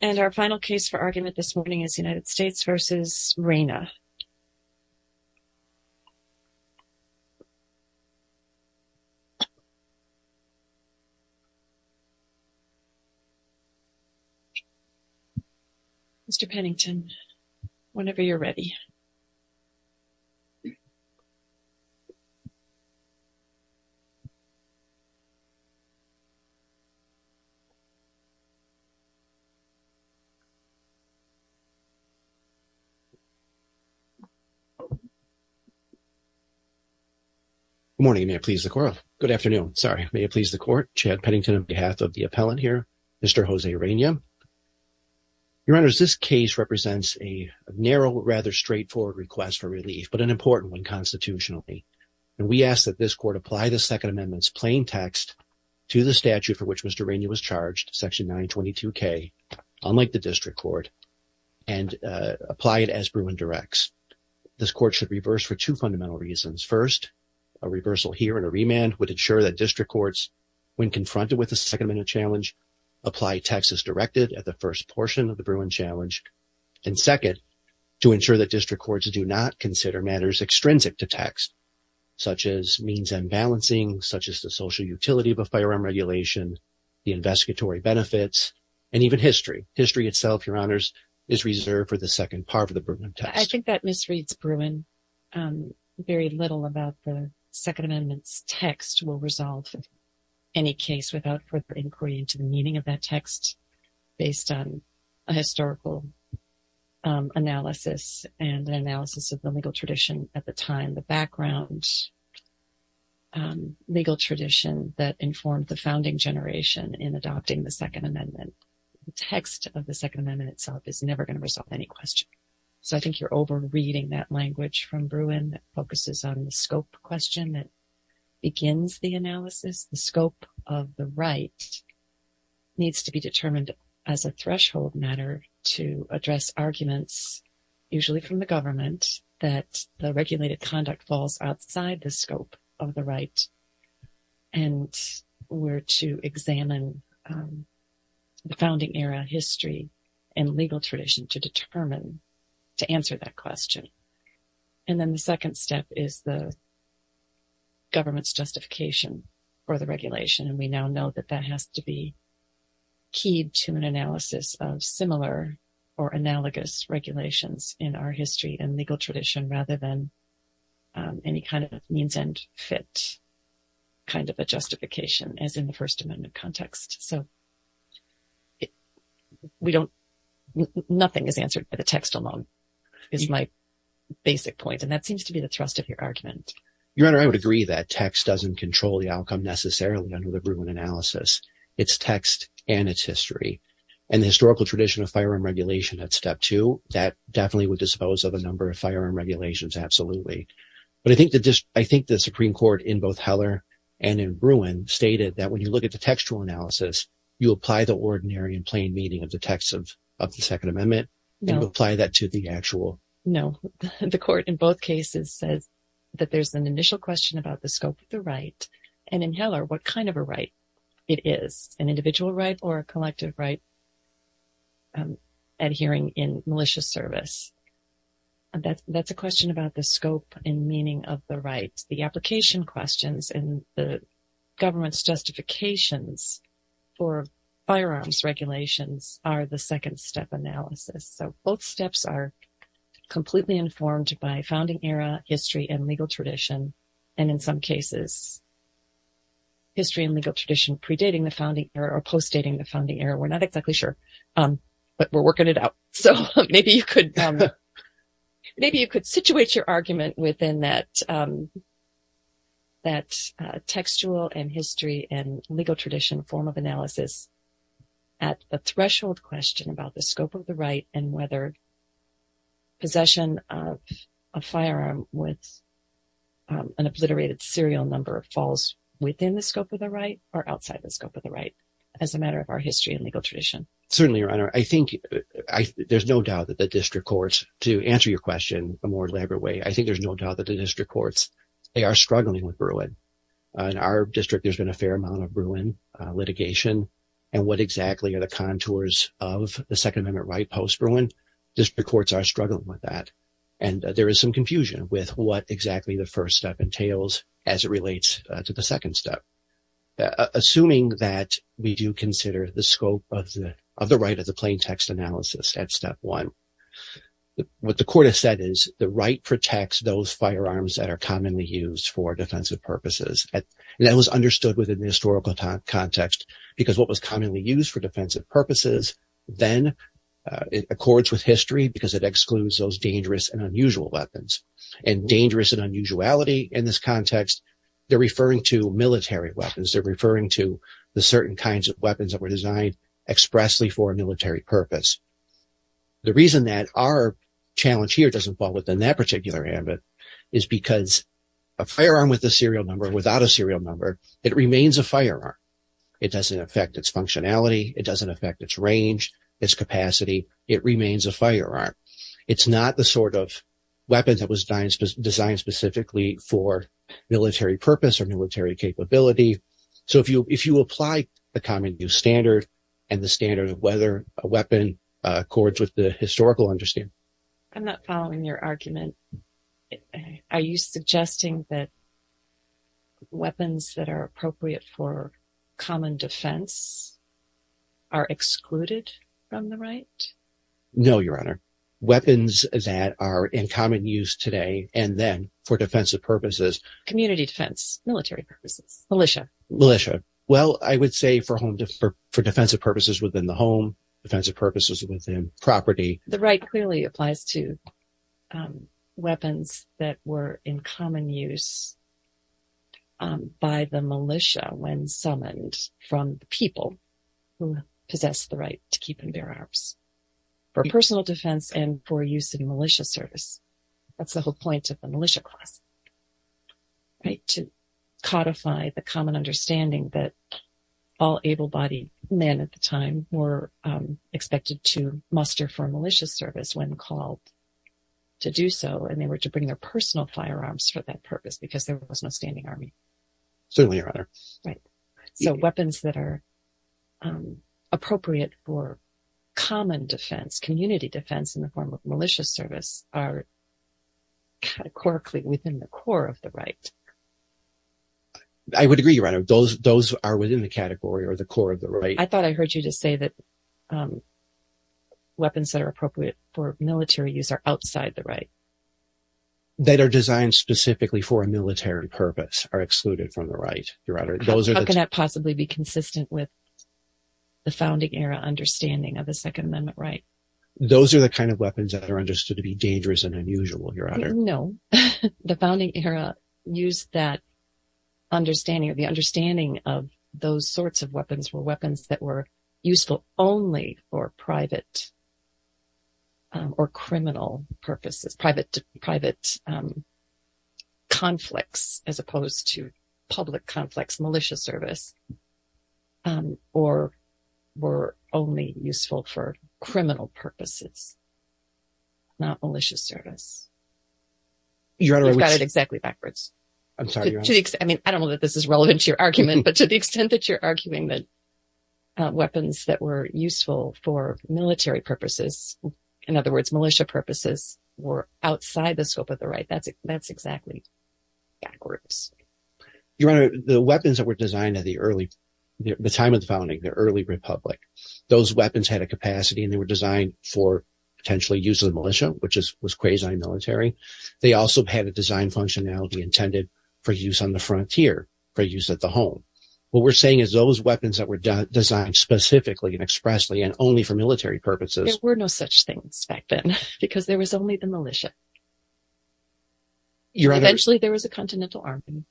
And our final case for argument this morning is United States v. Reyna. Mr. Pennington, whenever you're ready. Good morning. May it please the court. Good afternoon. Sorry. May it please the court. Chad Pennington on behalf of the appellant here. Mr. Jose Reyna. Your Honor, this case represents a narrow, rather straightforward request for relief, but an important one constitutionally. And we ask that this court apply the Second Amendment's plain text to the statute for which Mr. Reyna was charged, Section 922K, unlike the district court, and apply it as Bruin directs. This court should reverse for two fundamental reasons. First, a reversal here and a remand would ensure that district courts, when confronted with the Second Amendment challenge, apply text as directed at the first portion of the Bruin challenge. And second, to ensure that district courts do not consider matters extrinsic to text, such as means and balancing, such as the social utility of a firearm regulation, the investigatory benefits, and even history. History itself, Your Honors, is reserved for the second part of the Bruin test. I think that misreads Bruin very little about the Second Amendment's text. We'll resolve any case without further inquiry into the meaning of that text based on a historical analysis and an analysis of the legal tradition at the time, the background legal tradition that informed the founding generation in adopting the Second Amendment. The text of the Second Amendment itself is never going to resolve any question. So I think you're over-reading that language from Bruin that focuses on the scope question that begins the analysis. The scope of the right needs to be determined as a threshold matter to address arguments, usually from the government, that the regulated conduct falls outside the scope of the right and were to examine the founding era, history, and legal tradition to determine, to answer that question. And then the second step is the government's justification for the regulation, and we now know that that has to be keyed to an analysis of similar or analogous regulations in our history and legal tradition rather than any kind of means and fit kind of a justification, as in the First Amendment context. So nothing is answered by the text alone is my basic point, and that seems to be the thrust of your argument. Your Honor, I would agree that text doesn't control the outcome necessarily under the Bruin analysis. It's text and its history. And the historical tradition of firearm regulation at step two, that definitely would dispose of a number of firearm regulations, absolutely. But I think the Supreme Court in both Heller and in Bruin stated that when you look at the textual analysis, you apply the ordinary and plain meaning of the text of the Second Amendment and you apply that to the actual. No, the court in both cases says that there's an initial question about the scope of the right. And in Heller, what kind of a right it is, an individual right or a collective right adhering in malicious service? That's a question about the scope and meaning of the right. The application questions and the government's justifications for firearms regulations are the second step analysis. So both steps are completely informed by founding era, history, and legal tradition. And in some cases, history and legal tradition predating the founding era or postdating the founding era. We're not exactly sure, but we're working it out. So maybe you could situate your argument within that textual and history and legal tradition form of analysis at the threshold question about the scope of the right and whether possession of a firearm with an obliterated serial number falls within the scope of the right or outside the scope of the right as a matter of our history and legal tradition. Certainly, Your Honor, I think there's no doubt that the district courts, to answer your question in a more elaborate way, I think there's no doubt that the district courts, they are struggling with Bruin. In our district, there's been a fair amount of Bruin litigation. And what exactly are the contours of the Second Amendment right post-Bruin? District courts are struggling with that. And there is some confusion with what exactly the first step entails as it relates to the second step. Assuming that we do consider the scope of the right as a plain text analysis at step one, what the court has said is the right protects those firearms that are commonly used for defensive purposes. And that was understood within the historical context because what was commonly used for defensive purposes then accords with history because it excludes those dangerous and unusual weapons. And dangerous and unusuality in this context, they're referring to military weapons. They're referring to the certain kinds of weapons that were designed expressly for a military purpose. The reason that our challenge here doesn't fall within that particular ambit is because a firearm with a serial number, without a serial number, it remains a firearm. It doesn't affect its functionality. It doesn't affect its range, its capacity. It remains a firearm. It's not the sort of weapon that was designed specifically for military purpose or military capability. So if you apply the common use standard and the standard of whether a weapon accords with the historical understanding. I'm not following your argument. Are you suggesting that weapons that are appropriate for common defense are excluded from the right? No, Your Honor. Weapons that are in common use today and then for defensive purposes. Community defense, military purposes, militia. Militia. Well, I would say for defensive purposes within the home, defensive purposes within property. The right clearly applies to weapons that were in common use by the militia when summoned from the people who possess the right to keep and bear arms for personal defense and for use in militia service. That's the whole point of the militia class. To codify the common understanding that all able-bodied men at the time were expected to muster for a militia service when called to do so. And they were to bring their personal firearms for that purpose because there was no standing army. Certainly, Your Honor. So weapons that are appropriate for common defense, community defense in the form of militia service are categorically within the core of the right. I would agree, Your Honor. Those are within the category or the core of the right. I thought I heard you just say that weapons that are appropriate for military use are outside the right. That are designed specifically for a military purpose are excluded from the right, Your Honor. How can that possibly be consistent with the founding era understanding of the Second Amendment right? Those are the kind of weapons that are understood to be dangerous and unusual, Your Honor. No. The founding era used that understanding or the understanding of those sorts of weapons were weapons that were useful only for private or criminal purposes, private conflicts as opposed to public conflicts, militia service, or were only useful for criminal purposes, not militia service. Your Honor, which… I've got it exactly backwards. I'm sorry, Your Honor. I don't know that this is relevant to your argument, but to the extent that you're arguing that weapons that were useful for military purposes, in other words, militia purposes, were outside the scope of the right, that's exactly backwards. Your Honor, the weapons that were designed at the time of the founding, the early republic, those weapons had a capacity and they were designed for potentially use of the militia, which was quasi-military. They also had a design functionality intended for use on the frontier, for use at the home. What we're saying is those weapons that were designed specifically and expressly and only for military purposes… There were no such things back then because there was only the militia. Your Honor… Eventually, there was a continental army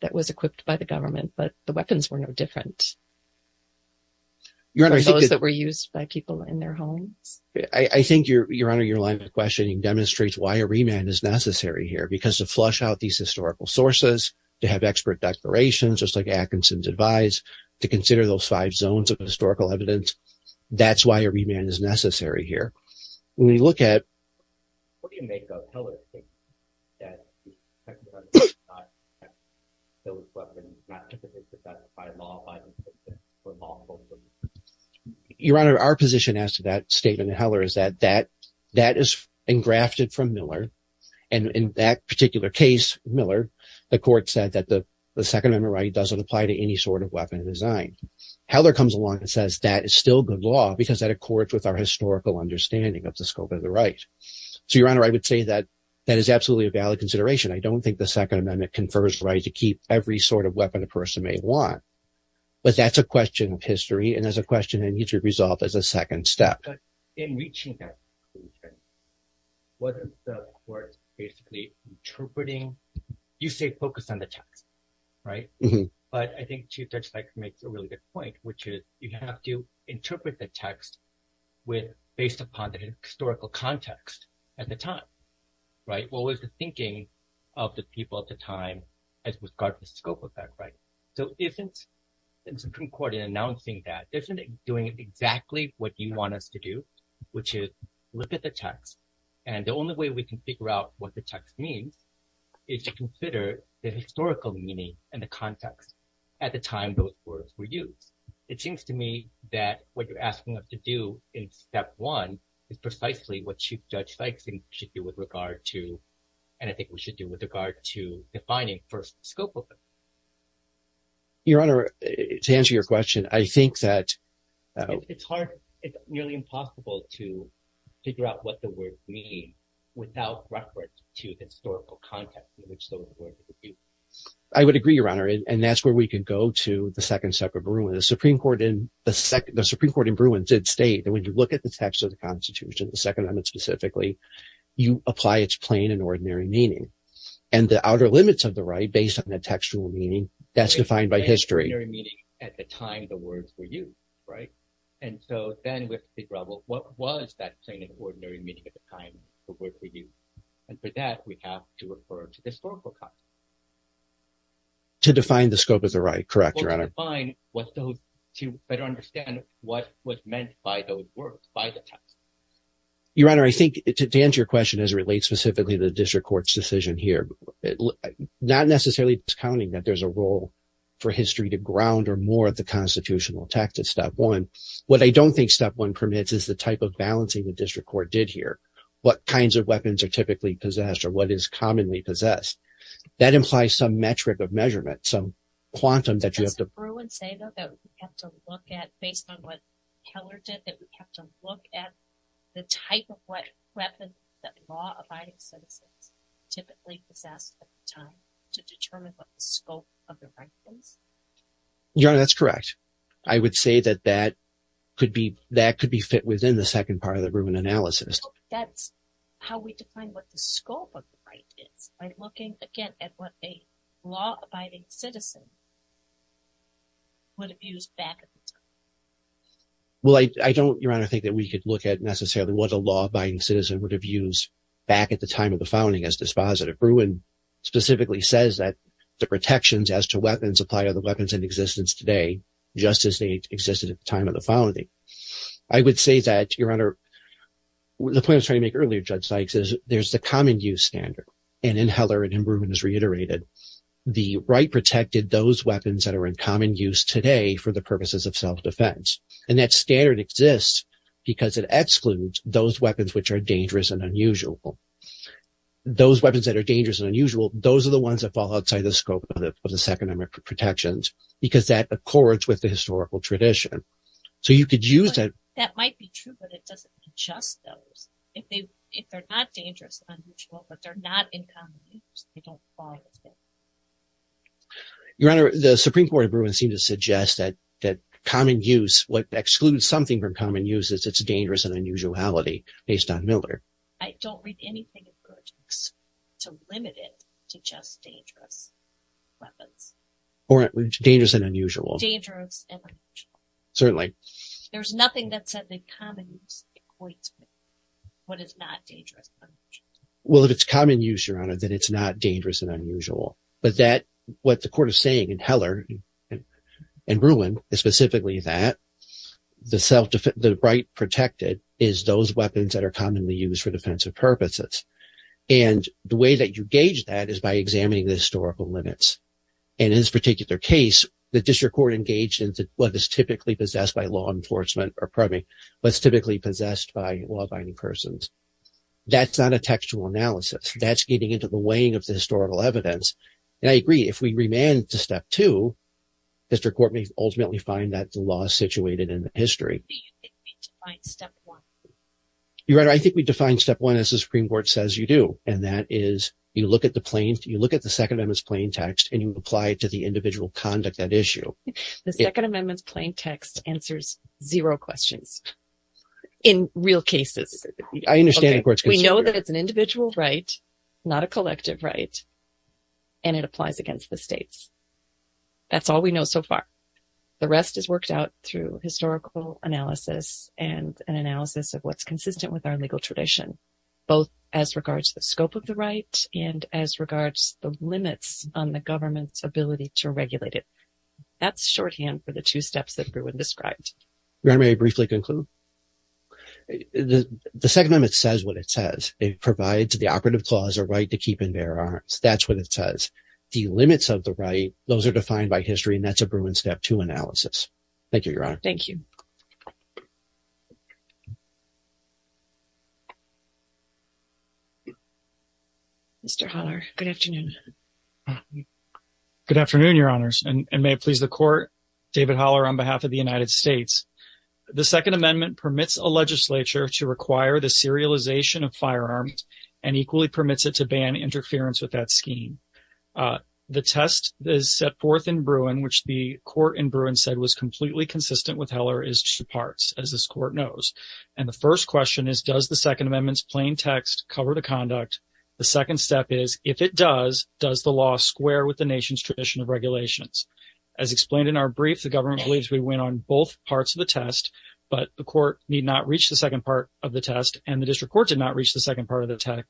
that was equipped by the government, but the weapons were no different than those that were used by people in their homes. I think, Your Honor, your line of questioning demonstrates why a remand is necessary here. Because to flush out these historical sources, to have expert declarations, just like Atkinson's advised, to consider those five zones of historical evidence, that's why a remand is necessary here. When we look at… What do you make of Hillard's statement that… Your Honor, our position as to that statement of Hillard is that that is engrafted from Miller, and in that particular case, Miller, the court said that the Second Amendment right doesn't apply to any sort of weapon design. Hillard comes along and says that is still good law because that accords with our historical understanding of the scope of the right. So, Your Honor, I would say that that is absolutely a valid consideration. I don't think the Second Amendment confers the right to keep every sort of weapon a person may want. But that's a question of history, and that's a question that needs to be resolved as a second step. But in reaching that conclusion, wasn't the court basically interpreting… You say focus on the text, right? But I think Chief Judge Sykes makes a really good point, which is you have to interpret the text based upon the historical context at the time, right? What was the thinking of the people at the time with regard to the scope of that right? So isn't the Supreme Court, in announcing that, isn't it doing exactly what you want us to do, which is look at the text? And the only way we can figure out what the text means is to consider the historical meaning and the context at the time those words were used. It seems to me that what you're asking us to do in step one is precisely what Chief Judge Sykes should do with regard to, and I think we should do with regard to, defining first scope of it. Your Honor, to answer your question, I think that… It's nearly impossible to figure out what the words mean without reference to the historical context in which those words were used. I would agree, Your Honor, and that's where we can go to the second step of Bruin. The Supreme Court in Bruin did state that when you look at the text of the Constitution, the Second Amendment specifically, you apply its plain and ordinary meaning. And the outer limits of the right, based on the textual meaning, that's defined by history. Plain and ordinary meaning at the time the words were used, right? And so then with the rebel, what was that plain and ordinary meaning at the time the words were used? And for that, we have to refer to the historical context. To define the scope of the right, correct, Your Honor. To better understand what was meant by those words, by the text. Your Honor, I think to answer your question as it relates specifically to the district court's decision here, not necessarily discounting that there's a role for history to ground or more at the constitutional text at step one. What I don't think step one permits is the type of balancing the district court did here. What kinds of weapons are typically possessed or what is commonly possessed? That implies some metric of measurement, some quantum that you have to— Does the Bruin say, though, that we have to look at, based on what Keller did, that we have to look at the type of what weapons that law-abiding citizens typically possessed at the time to determine what the scope of the right is? Your Honor, that's correct. I would say that that could be fit within the second part of the Bruin analysis. That's how we define what the scope of the right is. By looking, again, at what a law-abiding citizen would have used back at the time. Well, I don't, Your Honor, think that we could look at necessarily what a law-abiding citizen would have used back at the time of the founding as dispositive. The Bruin specifically says that the protections as to weapons apply to the weapons in existence today, just as they existed at the time of the founding. I would say that, Your Honor, the point I was trying to make earlier, Judge Sykes, is there's the common use standard. And in Heller and in Bruin, as reiterated, the right protected those weapons that are in common use today for the purposes of self-defense. And that standard exists because it excludes those weapons which are dangerous and unusual. Those weapons that are dangerous and unusual, those are the ones that fall outside the scope of the Second Amendment protections. Because that accords with the historical tradition. So you could use that. But that might be true, but it doesn't adjust those. If they're not dangerous and unusual, but they're not in common use, they don't fall with it. Your Honor, the Supreme Court of Bruin seemed to suggest that common use, what excludes something from common use is it's dangerous and unusuality, based on Miller. I don't read anything of good to limit it to just dangerous weapons. Or dangerous and unusual. Dangerous and unusual. Certainly. There's nothing that said that common use equates with what is not dangerous and unusual. Well, if it's common use, Your Honor, then it's not dangerous and unusual. But what the court is saying in Heller and Bruin is specifically that the right protected is those weapons that are commonly used for defensive purposes. And the way that you gauge that is by examining the historical limits. And in this particular case, the district court engaged in what is typically possessed by law enforcement, or pardon me, what's typically possessed by law-abiding persons. That's not a textual analysis. That's getting into the weighing of the historical evidence. And I agree, if we remand to Step 2, district court may ultimately find that the law is situated in the history. Do you think we define Step 1? Your Honor, I think we define Step 1 as the Supreme Court says you do. And that is, you look at the Second Amendment's plain text and you apply it to the individual conduct at issue. The Second Amendment's plain text answers zero questions. In real cases. I understand the court's concern. We know that it's an individual right, not a collective right, and it applies against the states. That's all we know so far. The rest is worked out through historical analysis and an analysis of what's consistent with our legal tradition. Both as regards to the scope of the right and as regards the limits on the government's ability to regulate it. That's shorthand for the two steps that Bruin described. Your Honor, may I briefly conclude? The Second Amendment says what it says. It provides the operative clause a right to keep and bear arms. That's what it says. The limits of the right, those are defined by history, and that's a Bruin Step 2 analysis. Thank you, Your Honor. Thank you. Mr. Holler, good afternoon. Good afternoon, Your Honors, and may it please the court. David Holler on behalf of the United States. The Second Amendment permits a legislature to require the serialization of firearms and equally permits it to ban interference with that scheme. The test that is set forth in Bruin, which the court in Bruin said was completely consistent with Heller, is two parts, as this court knows. And the first question is, does the Second Amendment's plain text cover the conduct? The second step is, if it does, does the law square with the nation's tradition of regulations? As explained in our brief, the government believes we win on both parts of the test, but the court need not reach the second part of the test, and the district court did not reach the second part of the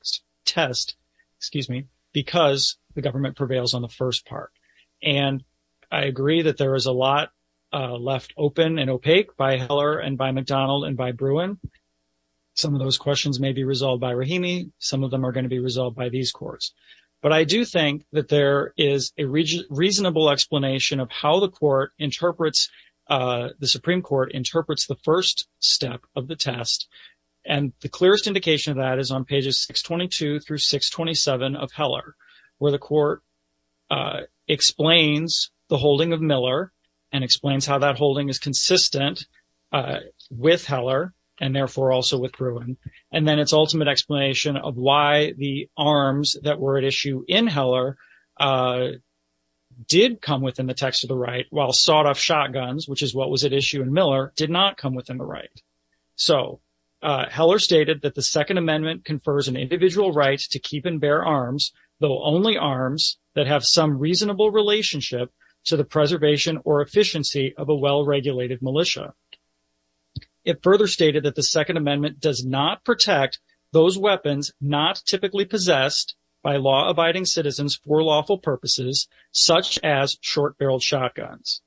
test, excuse me, because the government prevails on the first part. And I agree that there is a lot left open and opaque by Heller and by McDonald and by Bruin. Some of those questions may be resolved by Rahimi. Some of them are going to be resolved by these courts. But I do think that there is a reasonable explanation of how the Supreme Court interprets the first step of the test. And the clearest indication of that is on pages 622 through 627 of Heller, where the court explains the holding of Miller and explains how that holding is consistent with Heller and therefore also with Bruin. And then its ultimate explanation of why the arms that were at issue in Heller did come within the text of the right, while sawed-off shotguns, which is what was at issue in Miller, did not come within the right. So Heller stated that the Second Amendment confers an individual right to keep and bear arms, though only arms that have some reasonable relationship to the preservation or efficiency of a well-regulated militia. It further stated that the Second Amendment does not protect those weapons not typically possessed by law-abiding citizens for lawful purposes, such as short-barreled shotguns.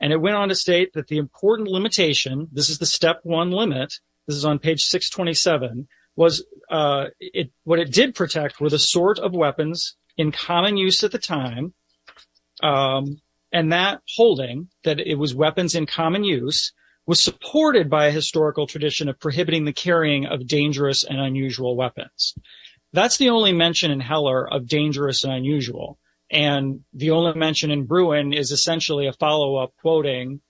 And it went on to state that the important limitation, this is the step one limit, this is on page 627, what it did protect were the sort of weapons in common use at the time, and that holding, that it was weapons in common use, was supported by a historical tradition of prohibiting the carrying of dangerous and unusual weapons. That's the only mention in Heller of dangerous and unusual, and the only mention in Bruin is essentially a follow-up quoting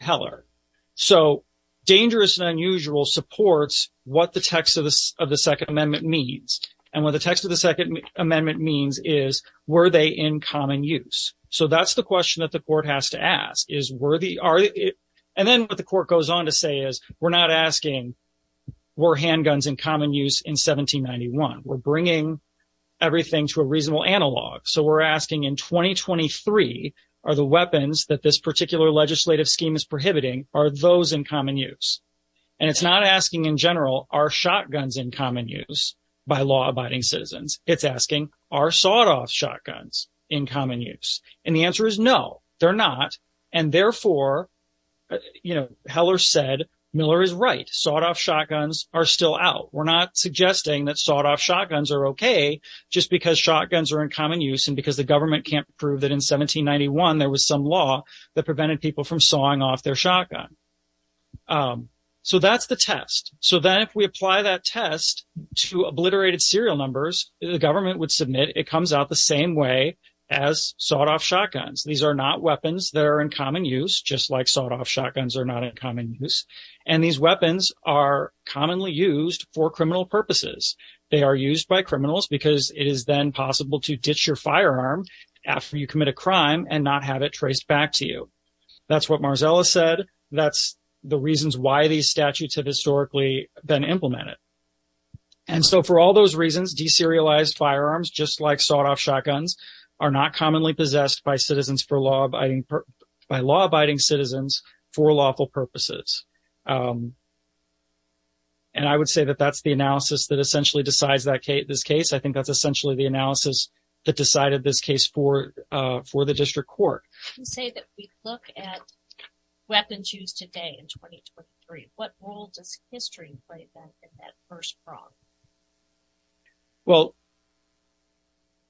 Heller. So dangerous and unusual supports what the text of the Second Amendment means. And what the text of the Second Amendment means is, were they in common use? So that's the question that the court has to ask, is were they, are they, and then what the court goes on to say is, we're not asking were handguns in common use in 1791. We're bringing everything to a reasonable analog. So we're asking in 2023, are the weapons that this particular legislative scheme is prohibiting, are those in common use? And it's not asking in general, are shotguns in common use by law-abiding citizens? It's asking, are sawed-off shotguns in common use? And the answer is no, they're not. And therefore, you know, Heller said, Miller is right. Sawed-off shotguns are still out. We're not suggesting that sawed-off shotguns are okay just because shotguns are in common use and because the government can't prove that in 1791 there was some law that prevented people from sawing off their shotgun. So that's the test. So then if we apply that test to obliterated serial numbers, the government would submit it comes out the same way as sawed-off shotguns. These are not weapons that are in common use, just like sawed-off shotguns are not in common use. And these weapons are commonly used for criminal purposes. They are used by criminals because it is then possible to ditch your firearm after you commit a crime and not have it traced back to you. That's what Marzella said. That's the reasons why these statutes have historically been implemented. And so for all those reasons, deserialized firearms, just like sawed-off shotguns, are not commonly possessed by law-abiding citizens for lawful purposes. And I would say that that's the analysis that essentially decides this case. I think that's essentially the analysis that decided this case for the district court. You say that we look at weapons used today in 2023. What role does history play in that first problem? Well,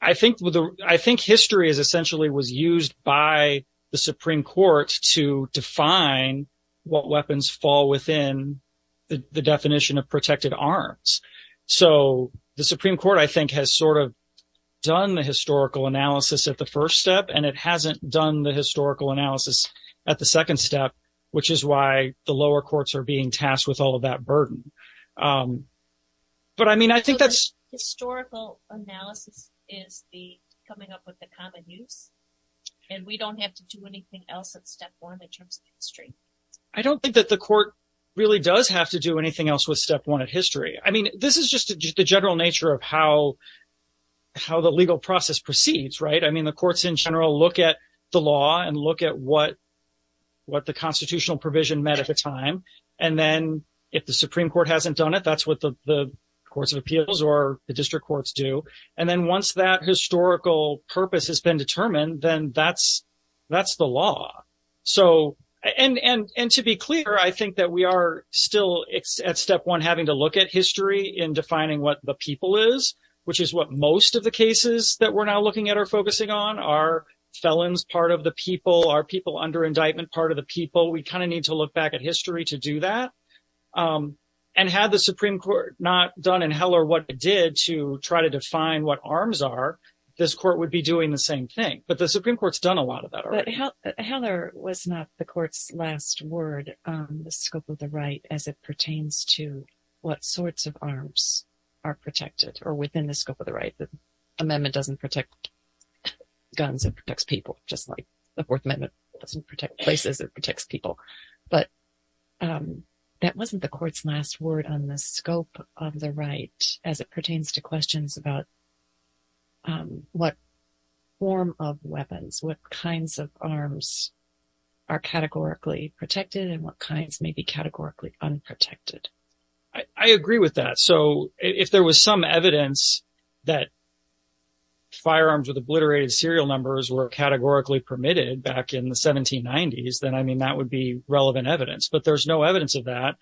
I think history essentially was used by the Supreme Court to define what weapons fall within the definition of protected arms. So the Supreme Court, I think, has sort of done the historical analysis at the first step, and it hasn't done the historical analysis at the second step, which is why the lower courts are being tasked with all of that burden. Historical analysis is coming up with the common use, and we don't have to do anything else at step one in terms of history. I don't think that the court really does have to do anything else with step one in history. I mean, this is just the general nature of how the legal process proceeds, right? I mean, the courts in general look at the law and look at what the constitutional provision meant at the time. And then if the Supreme Court hasn't done it, that's what the courts of appeals or the district courts do. And then once that historical purpose has been determined, then that's the law. And to be clear, I think that we are still at step one having to look at history in defining what the people is, which is what most of the cases that we're now looking at are focusing on. Are felons part of the people? Are people under indictment part of the people? We kind of need to look back at history to do that. And had the Supreme Court not done in Heller what it did to try to define what arms are, this court would be doing the same thing. But the Supreme Court's done a lot of that already. But Heller was not the court's last word on the scope of the right as it pertains to what sorts of arms are protected or within the scope of the right. The amendment doesn't protect guns, it protects people, just like the Fourth Amendment doesn't protect places, it protects people. But that wasn't the court's last word on the scope of the right as it pertains to questions about what form of weapons, what kinds of arms are categorically protected and what kinds may be categorically unprotected. I agree with that. So if there was some evidence that firearms with obliterated serial numbers were categorically permitted back in the 1790s, then I mean, that would be relevant evidence. But there's no evidence of that.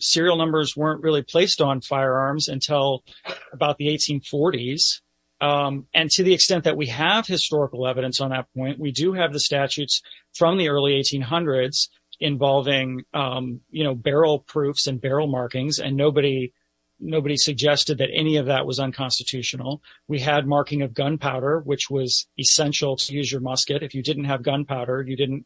Serial numbers weren't really placed on firearms until about the 1840s. And to the extent that we have historical evidence on that point, we do have the statutes from the early 1800s involving, you know, barrel proofs and barrel markings and nobody nobody suggested that any of that was unconstitutional. We had marking of gunpowder, which was essential to use your musket. If you didn't have gunpowder, you didn't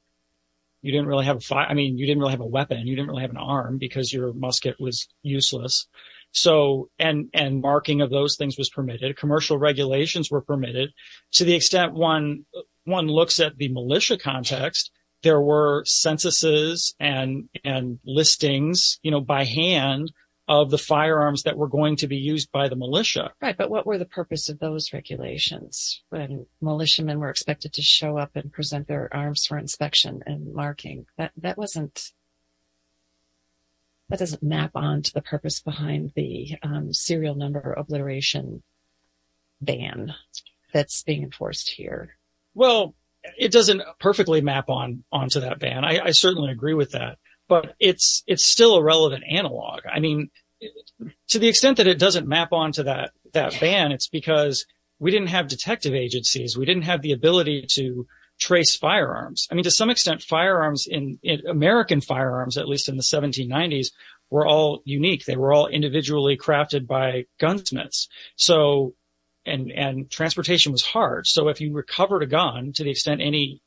you didn't really have a fire. I mean, you didn't really have a weapon. You didn't really have an arm because your musket was useless. So and and marking of those things was permitted. Commercial regulations were permitted to the extent one one looks at the militia context. There were censuses and and listings, you know, by hand of the firearms that were going to be used by the militia. Right. But what were the purpose of those regulations when militiamen were expected to show up and present their arms for inspection and marking? That wasn't. That doesn't map on to the purpose behind the serial number obliteration ban that's being enforced here. Well, it doesn't perfectly map on onto that ban. I certainly agree with that, but it's it's still a relevant analog. I mean, to the extent that it doesn't map onto that that ban, it's because we didn't have detective agencies. We didn't have the ability to trace firearms. I mean, to some extent, firearms in American firearms, at least in the 1790s, were all unique. They were all individually crafted by gunsmiths. So and and transportation was hard. So if you recovered a gun to the extent any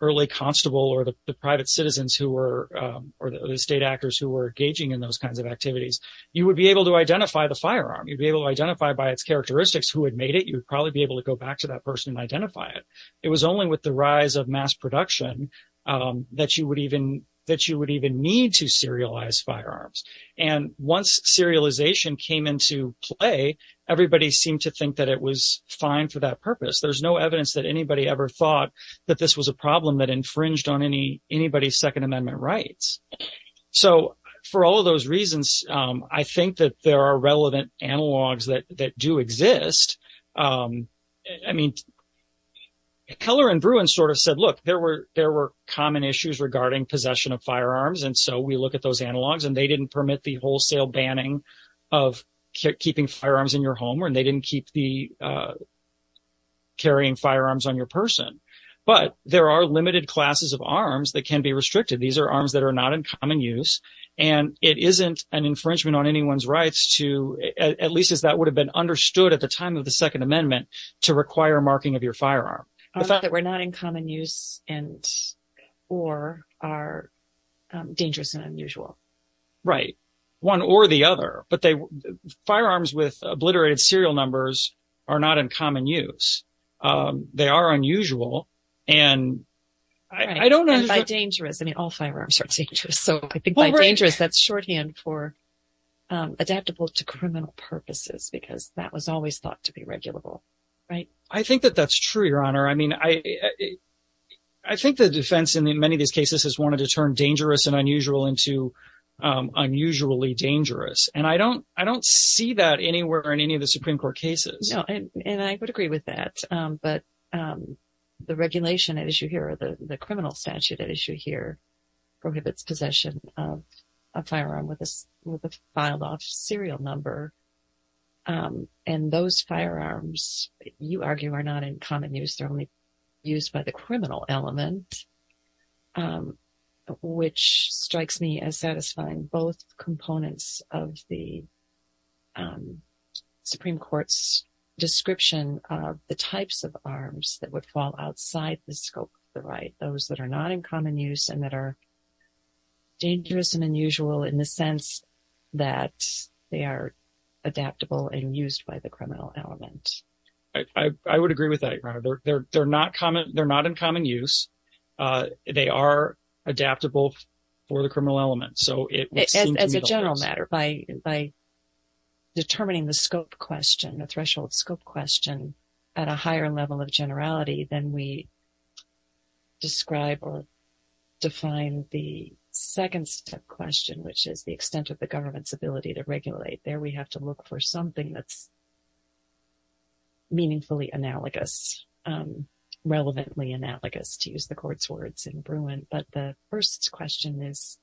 early constable or the private citizens who were or the state actors who were engaging in those kinds of activities, you would be able to identify the firearm. You'd be able to identify by its characteristics who had made it. You'd probably be able to go back to that person and identify it. It was only with the rise of mass production that you would even that you would even need to serialize firearms. And once serialization came into play, everybody seemed to think that it was fine for that purpose. There's no evidence that anybody ever thought that this was a problem that infringed on any anybody's Second Amendment rights. So for all of those reasons, I think that there are relevant analogs that that do exist. I mean, Keller and Bruin sort of said, look, there were there were common issues regarding possession of firearms. And so we look at those analogs and they didn't permit the wholesale banning of keeping firearms in your home and they didn't keep the. Carrying firearms on your person, but there are limited classes of arms that can be restricted. These are arms that are not in common use, and it isn't an infringement on anyone's rights to at least as that would have been understood at the time of the Second Amendment to require marking of your firearm. The fact that we're not in common use and or are dangerous and unusual. Right. One or the other. But firearms with obliterated serial numbers are not in common use. They are unusual. And I don't know. Dangerous. I mean, all firearms are dangerous. So I think by dangerous, that's shorthand for adaptable to criminal purposes, because that was always thought to be regulable. Right. I think that that's true, Your Honor. I mean, I think the defense in many of these cases has wanted to turn dangerous and unusual into unusually dangerous. And I don't I don't see that anywhere in any of the Supreme Court cases. And I would agree with that. But the regulation issue here, the criminal statute issue here prohibits possession of a firearm with a filed off serial number. And those firearms, you argue, are not in common use. They're only used by the criminal element, which strikes me as satisfying both components of the Supreme Court's description of the types of arms that would fall outside the scope. Right. Those that are not in common use and that are dangerous and unusual in the sense that they are adaptable and used by the criminal element. I would agree with that. They're not common. They're not in common use. They are adaptable for the criminal element. As a general matter, by determining the scope question, the threshold scope question at a higher level of generality, then we describe or define the second step question, which is the extent of the government's ability to regulate. There we have to look for something that's meaningfully analogous, relevantly analogous to use the court's words in Bruin. But the first question is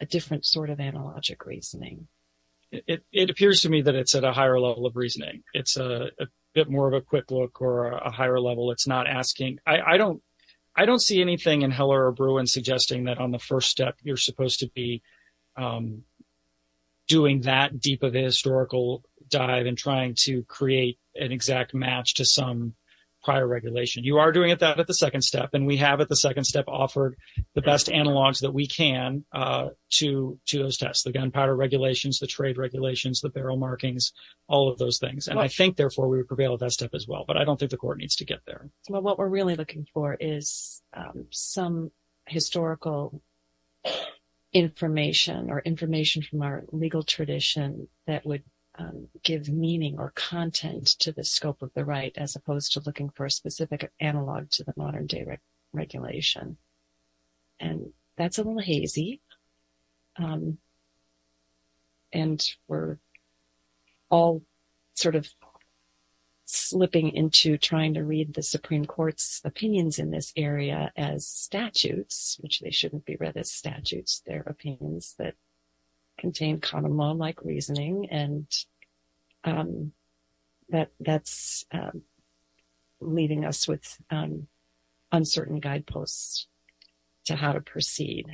a different sort of analogic reasoning. It appears to me that it's at a higher level of reasoning. It's a bit more of a quick look or a higher level. It's not asking. I don't I don't see anything in Heller or Bruin suggesting that on the first step, you're supposed to be doing that deep of a historical dive and trying to create an exact match to some prior regulation. You are doing it that at the second step. And we have at the second step offered the best analogs that we can to to those tests. The gunpowder regulations, the trade regulations, the barrel markings, all of those things. And I think, therefore, we would prevail at that step as well. But I don't think the court needs to get there. Well, what we're really looking for is some historical information or information from our legal tradition that would give meaning or content to the scope of the right, as opposed to looking for a specific analog to the modern day regulation. And that's a little hazy. And we're all sort of slipping into trying to read the Supreme Court's opinions in this area as statutes, which they shouldn't be read as statutes. They're opinions that contain common law like reasoning and that that's leading us with uncertain guideposts to how to proceed.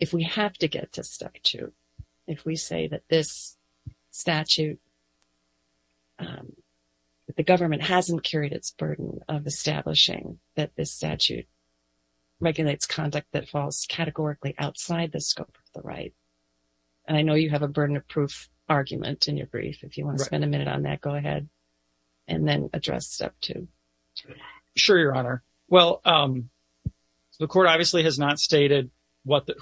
If we have to get to step two, if we say that this statute, the government hasn't carried its burden of establishing that this statute regulates conduct that falls categorically outside the scope of the right. And I know you have a burden of proof argument in your brief. If you want to spend a minute on that, go ahead and then address step two. Sure, Your Honor. Well, the court obviously has not stated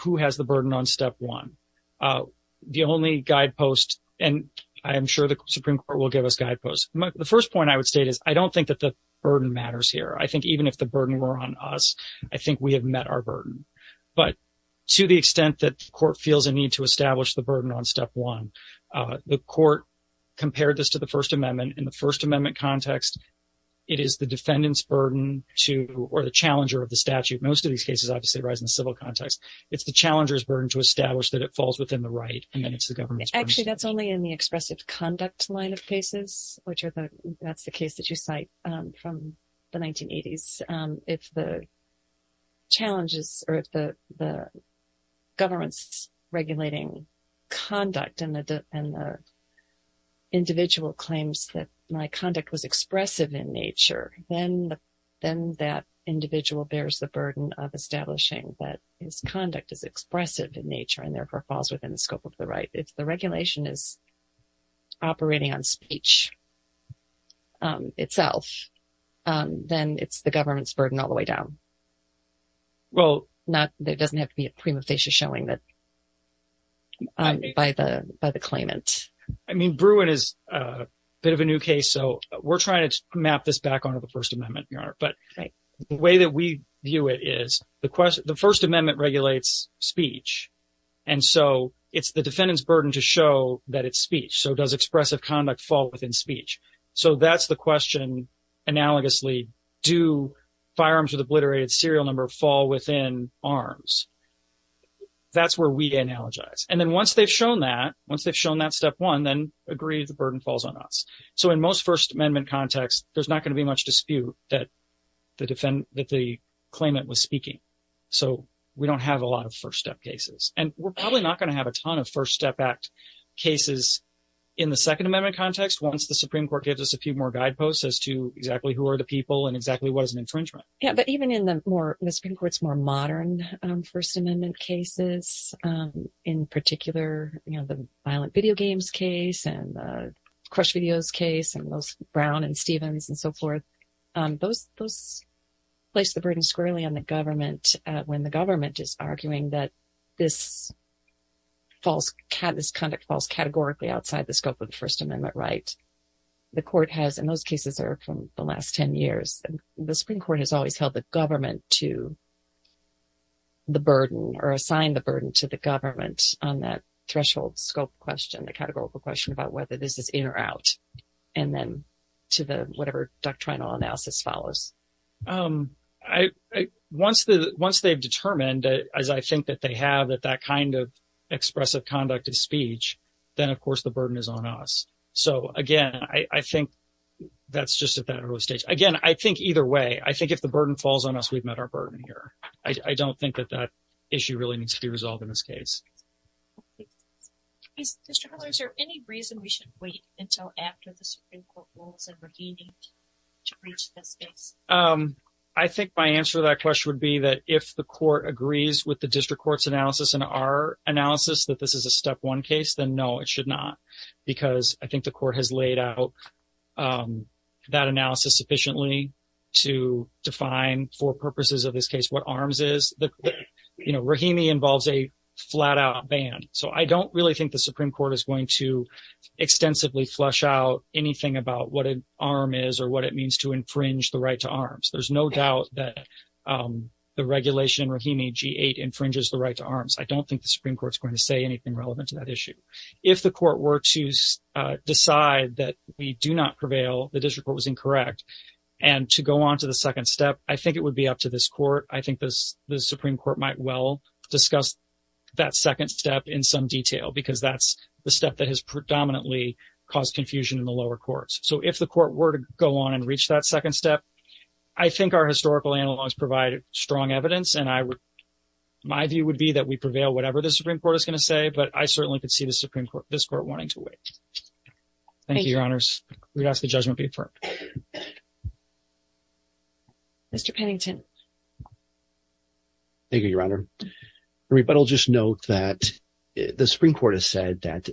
who has the burden on step one. The only guidepost and I am sure the Supreme Court will give us guideposts. The first point I would state is I don't think that the burden matters here. I think even if the burden were on us, I think we have met our burden. But to the extent that the court feels a need to establish the burden on step one, the court compared this to the First Amendment. In the First Amendment context, it is the defendant's burden to or the challenger of the statute. Most of these cases obviously arise in the civil context. It's the challenger's burden to establish that it falls within the right. And then it's the government's burden. Certainly in the expressive conduct line of cases, which are the, that's the case that you cite from the 1980s, if the challenges or the government's regulating conduct and the individual claims that my conduct was expressive in nature, then that individual bears the burden of establishing that his conduct is expressive in nature and therefore falls within the scope of the right. If the regulation is operating on speech itself, then it's the government's burden all the way down. Well, there doesn't have to be a prima facie showing that by the claimant. I mean, Bruin is a bit of a new case. So we're trying to map this back onto the First Amendment, Your Honor. But the way that we view it is the First Amendment regulates speech. And so it's the defendant's burden to show that it's speech. So does expressive conduct fall within speech? So that's the question analogously. Do firearms with obliterated serial number fall within arms? That's where we analogize. And then once they've shown that, once they've shown that step one, then agree the burden falls on us. So in most First Amendment context, there's not going to be much dispute that the claimant was speaking. So we don't have a lot of first step cases. And we're probably not going to have a ton of first step act cases in the Second Amendment context once the Supreme Court gives us a few more guideposts as to exactly who are the people and exactly what is an infringement. But even in the Supreme Court's more modern First Amendment cases, in particular, the violent video games case and the Crush Videos case and those Brown and Stevens and so forth, those place the burden squarely on the government when the government is arguing that this conduct falls categorically outside the scope of the First Amendment right. The Supreme Court has always held the government to the burden or assigned the burden to the government on that threshold scope question, the categorical question about whether this is in or out, and then to the whatever doctrinal analysis follows. Once they've determined, as I think that they have, that that kind of expressive conduct of speech, then, of course, the burden is on us. So, again, I think that's just at that early stage. Again, I think either way, I think if the burden falls on us, we've met our burden here. I don't think that that issue really needs to be resolved in this case. Mr. Miller, is there any reason we should wait until after the Supreme Court rules in Rahimi to reach this case? I think my answer to that question would be that if the court agrees with the district court's analysis and our analysis that this is a step one case, then no, it should not, because I think the court has laid out that analysis sufficiently to define for purposes of this case what arms is. Rahimi involves a flat-out ban, so I don't really think the Supreme Court is going to extensively flush out anything about what an arm is or what it means to infringe the right to arms. There's no doubt that the regulation in Rahimi G-8 infringes the right to arms. I don't think the Supreme Court is going to say anything relevant to that issue. If the court were to decide that we do not prevail, the district court was incorrect, and to go on to the second step, I think it would be up to this court. I think the Supreme Court might well discuss that second step in some detail because that's the step that has predominantly caused confusion in the lower courts. So if the court were to go on and reach that second step, I think our historical analogs provide strong evidence, and my view would be that we prevail whatever the Supreme Court is going to say, but I certainly could see this Supreme Court wanting to wait. Thank you, Your Honors. We'd ask the judgment be affirmed. Mr. Pennington. Thank you, Your Honor. But I'll just note that the Supreme Court has said that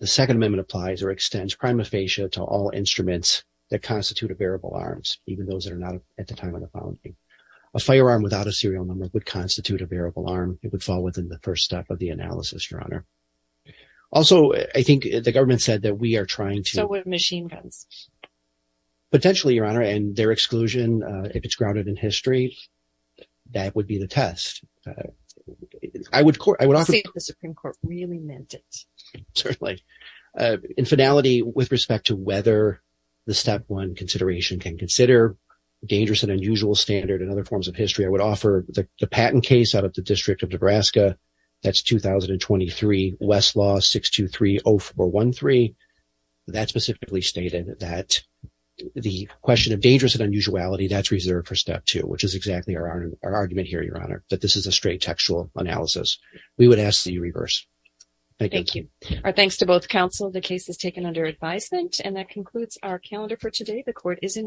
the Second Amendment applies or extends prima facie to all instruments that constitute a bearable arms, even those that are not at the time of the founding. A firearm without a serial number would constitute a bearable arm. It would fall within the first step of the analysis, Your Honor. Also, I think the government said that we are trying to So with machine guns. Potentially, Your Honor, and their exclusion, if it's grounded in history, that would be the test. I would say that the Supreme Court really meant it. Certainly. In finality, with respect to whether the Step 1 consideration can consider dangerous and unusual standard and other forms of history, I would offer the patent case out of the District of Nebraska. That's 2023 Westlaw 623-0413. That specifically stated that the question of dangerous and unusuality, that's reserved for Step 2, which is exactly our argument here, Your Honor, that this is a straight textual analysis. We would ask that you reverse. Thank you. Our thanks to both counsel. The case is taken under advisement. And that concludes our calendar for today. The court is in recess.